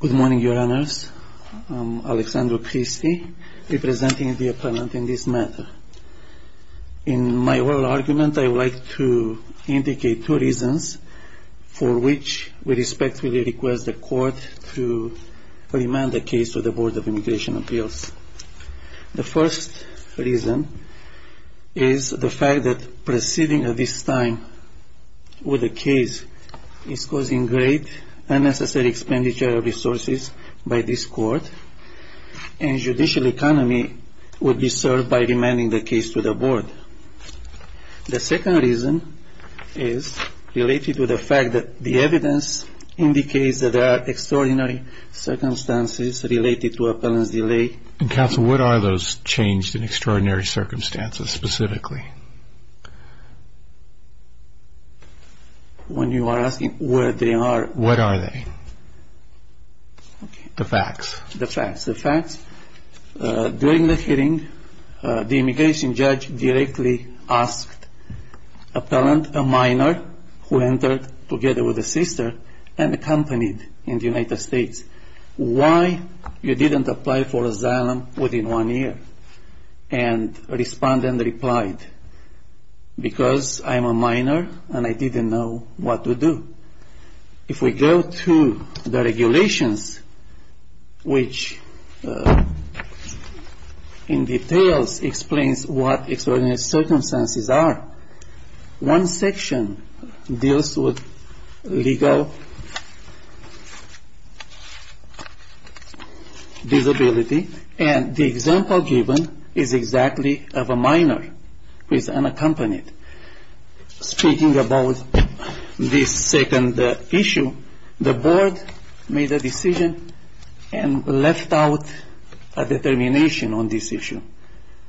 Good morning, Your Honors. I am Alexandro Cristi, representing the Appellant in this matter. In my oral argument, I would like to indicate two reasons for which we respectfully request the Court to remand the case to the Board of Immigration Appeals. The first reason is the fact that proceeding at this time with the case is causing great unnecessary expenditure of resources by this Court, and judicial economy would be served by remanding the case to the Board. The second reason is related to the fact that the evidence indicates that there are extraordinary circumstances related to appellant's delay. And Counsel, what are those changed and extraordinary circumstances specifically? When you are asking where they are? What are they? The facts. The facts. During the hearing, the immigration judge directly asked appellant, a minor, who entered together with a sister and accompanied in the United States, why you didn't apply for asylum within one year? And respondent replied, because I am a minor and I didn't know what to do. If we go to the regulations, which in detail explains what extraordinary circumstances are, one section deals with legal disability, and the example given is exactly of a minor who is unaccompanied. Speaking about this second issue, the Board made a decision and left out a determination on this issue.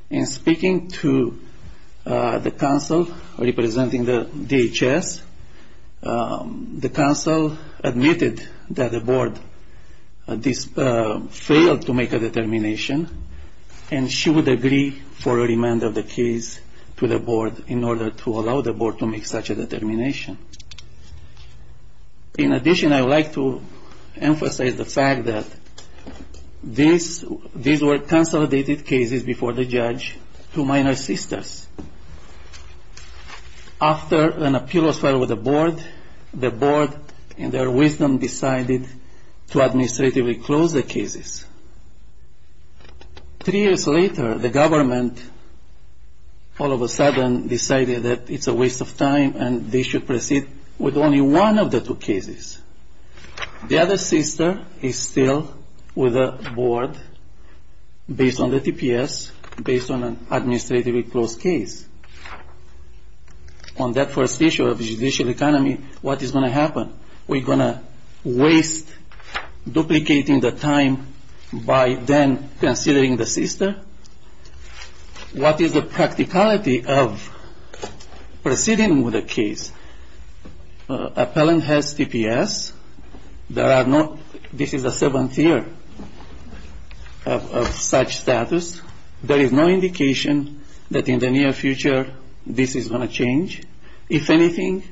In speaking to the Counsel representing the DHS, the Counsel admitted that the Board failed to make a determination and she would agree for a remand of the case to the Board in order to allow the Board to make such a determination. In addition, I would like to emphasize the fact that these were consolidated cases before the judge to minor sisters. After an appeal was filed with the Board, the Board, in their wisdom, decided to administratively close the cases. Three years later, the government all of a sudden decided that it's a waste of time and they should proceed with only one of the two cases. The other sister is still with the Board based on the TPS, based on an administratively closed case. On that first issue of judicial economy, what is going to happen? Are we going to waste duplicating the time by then considering the sister? What is the practicality of proceeding with a case? Appellant has TPS. This is the seventh year of such status. There is no indication that in the near future this is going to change. If anything,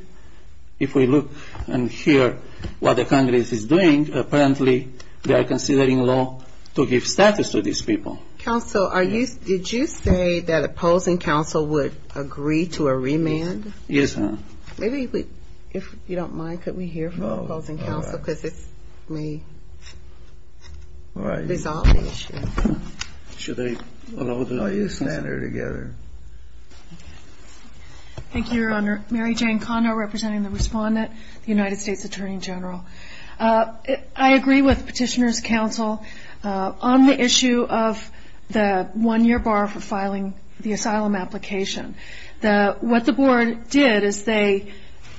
if we look and hear what the Congress is doing, apparently they are considering law to give status to these people. Counsel, did you say that opposing Counsel would agree to a remand? Yes, ma'am. Maybe if you don't mind, could we hear from opposing Counsel because this may resolve the issue. Should they allow this matter together? Thank you, Your Honor. Mary Jane Kondo representing the Respondent, the United States Attorney General. I agree with Petitioner's Counsel on the issue of the one-year bar for filing the asylum application. What the Board did is they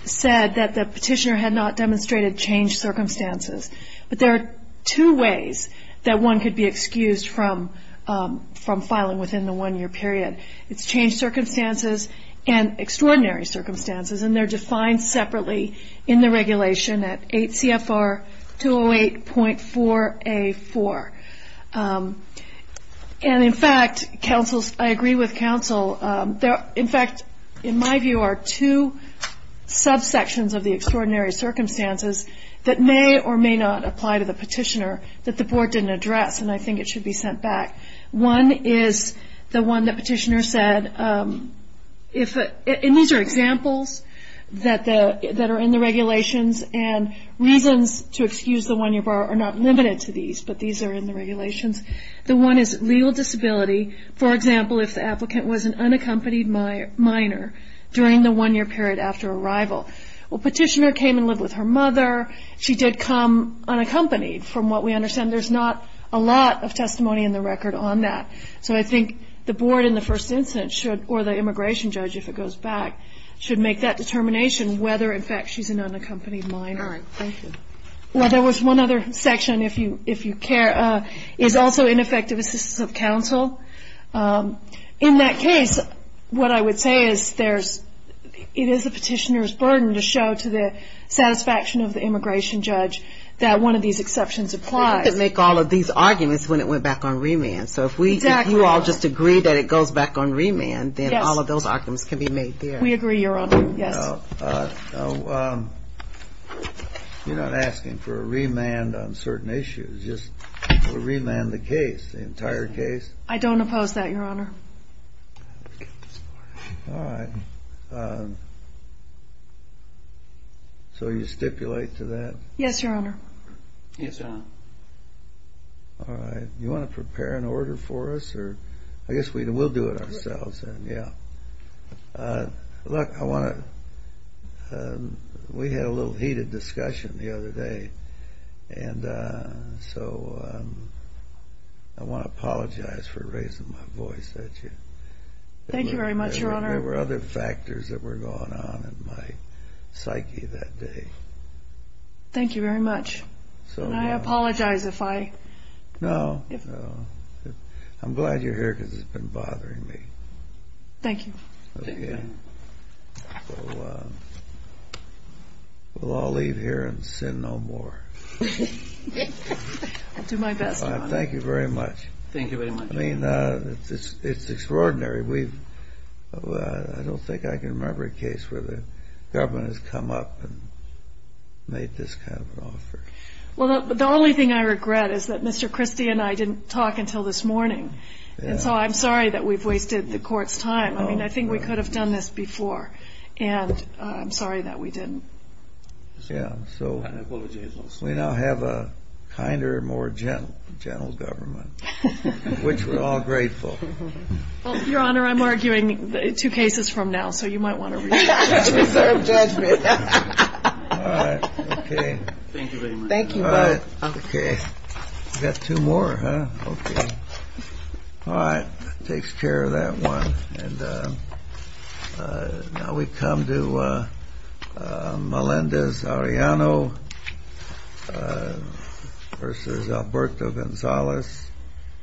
said that the Petitioner had not demonstrated changed circumstances, but there are two ways that one could be excused from filing within the one-year period. It's changed circumstances and extraordinary circumstances, and they're defined separately in the regulation at 8 CFR 208.4A4. And, in fact, I agree with Counsel. In fact, in my view, there are two subsections of the extraordinary circumstances that may or may not apply to the Petitioner that the Board didn't address, and I think it should be sent back. One is the one that Petitioner said, and these are examples that are in the regulations, and reasons to excuse the one-year bar are not limited to these, but these are in the regulations. The one is legal disability. For example, if the applicant was an unaccompanied minor during the one-year period after arrival. Well, Petitioner came and lived with her mother. She did come unaccompanied from what we understand. There's not a lot of testimony in the record on that. So I think the Board in the first instance should, or the immigration judge if it goes back, should make that determination whether, in fact, she's an unaccompanied minor. All right. Thank you. Well, there was one other section, if you care. It's also ineffective assistance of counsel. In that case, what I would say is it is the Petitioner's burden to show to the satisfaction of the immigration judge that one of these exceptions applies. It didn't make all of these arguments when it went back on remand. Exactly. So if you all just agree that it goes back on remand, then all of those arguments can be made there. We agree, Your Honor. Yes. Now, you're not asking for a remand on certain issues. Just a remand of the case, the entire case. I don't oppose that, Your Honor. All right. So you stipulate to that? Yes, Your Honor. Yes, Your Honor. All right. You want to prepare an order for us? I guess we'll do it ourselves then, yeah. Look, we had a little heated discussion the other day, and so I want to apologize for raising my voice at you. Thank you very much, Your Honor. There were other factors that were going on in my psyche that day. Thank you very much. Can I apologize if I? No. I'm glad you're here because it's been bothering me. Thank you. Thank you. We'll all leave here and sin no more. I'll do my best, Your Honor. Thank you very much. Thank you very much. I mean, it's extraordinary. I don't think I can remember a case where the government has come up and made this kind of an offer. Well, the only thing I regret is that Mr. Christie and I didn't talk until this morning, and so I'm sorry that we've wasted the court's time. I mean, I think we could have done this before, and I'm sorry that we didn't. Yeah, so we now have a kinder, more gentle government, which we're all grateful. Well, Your Honor, I'm arguing two cases from now, so you might want to read them. I deserve judgment. All right. Okay. Thank you very much. Thank you. All right. Okay. We've got two more, huh? Okay. All right. That takes care of that one. And now we come to Melendez-Arellano v. Alberto Gonzalez.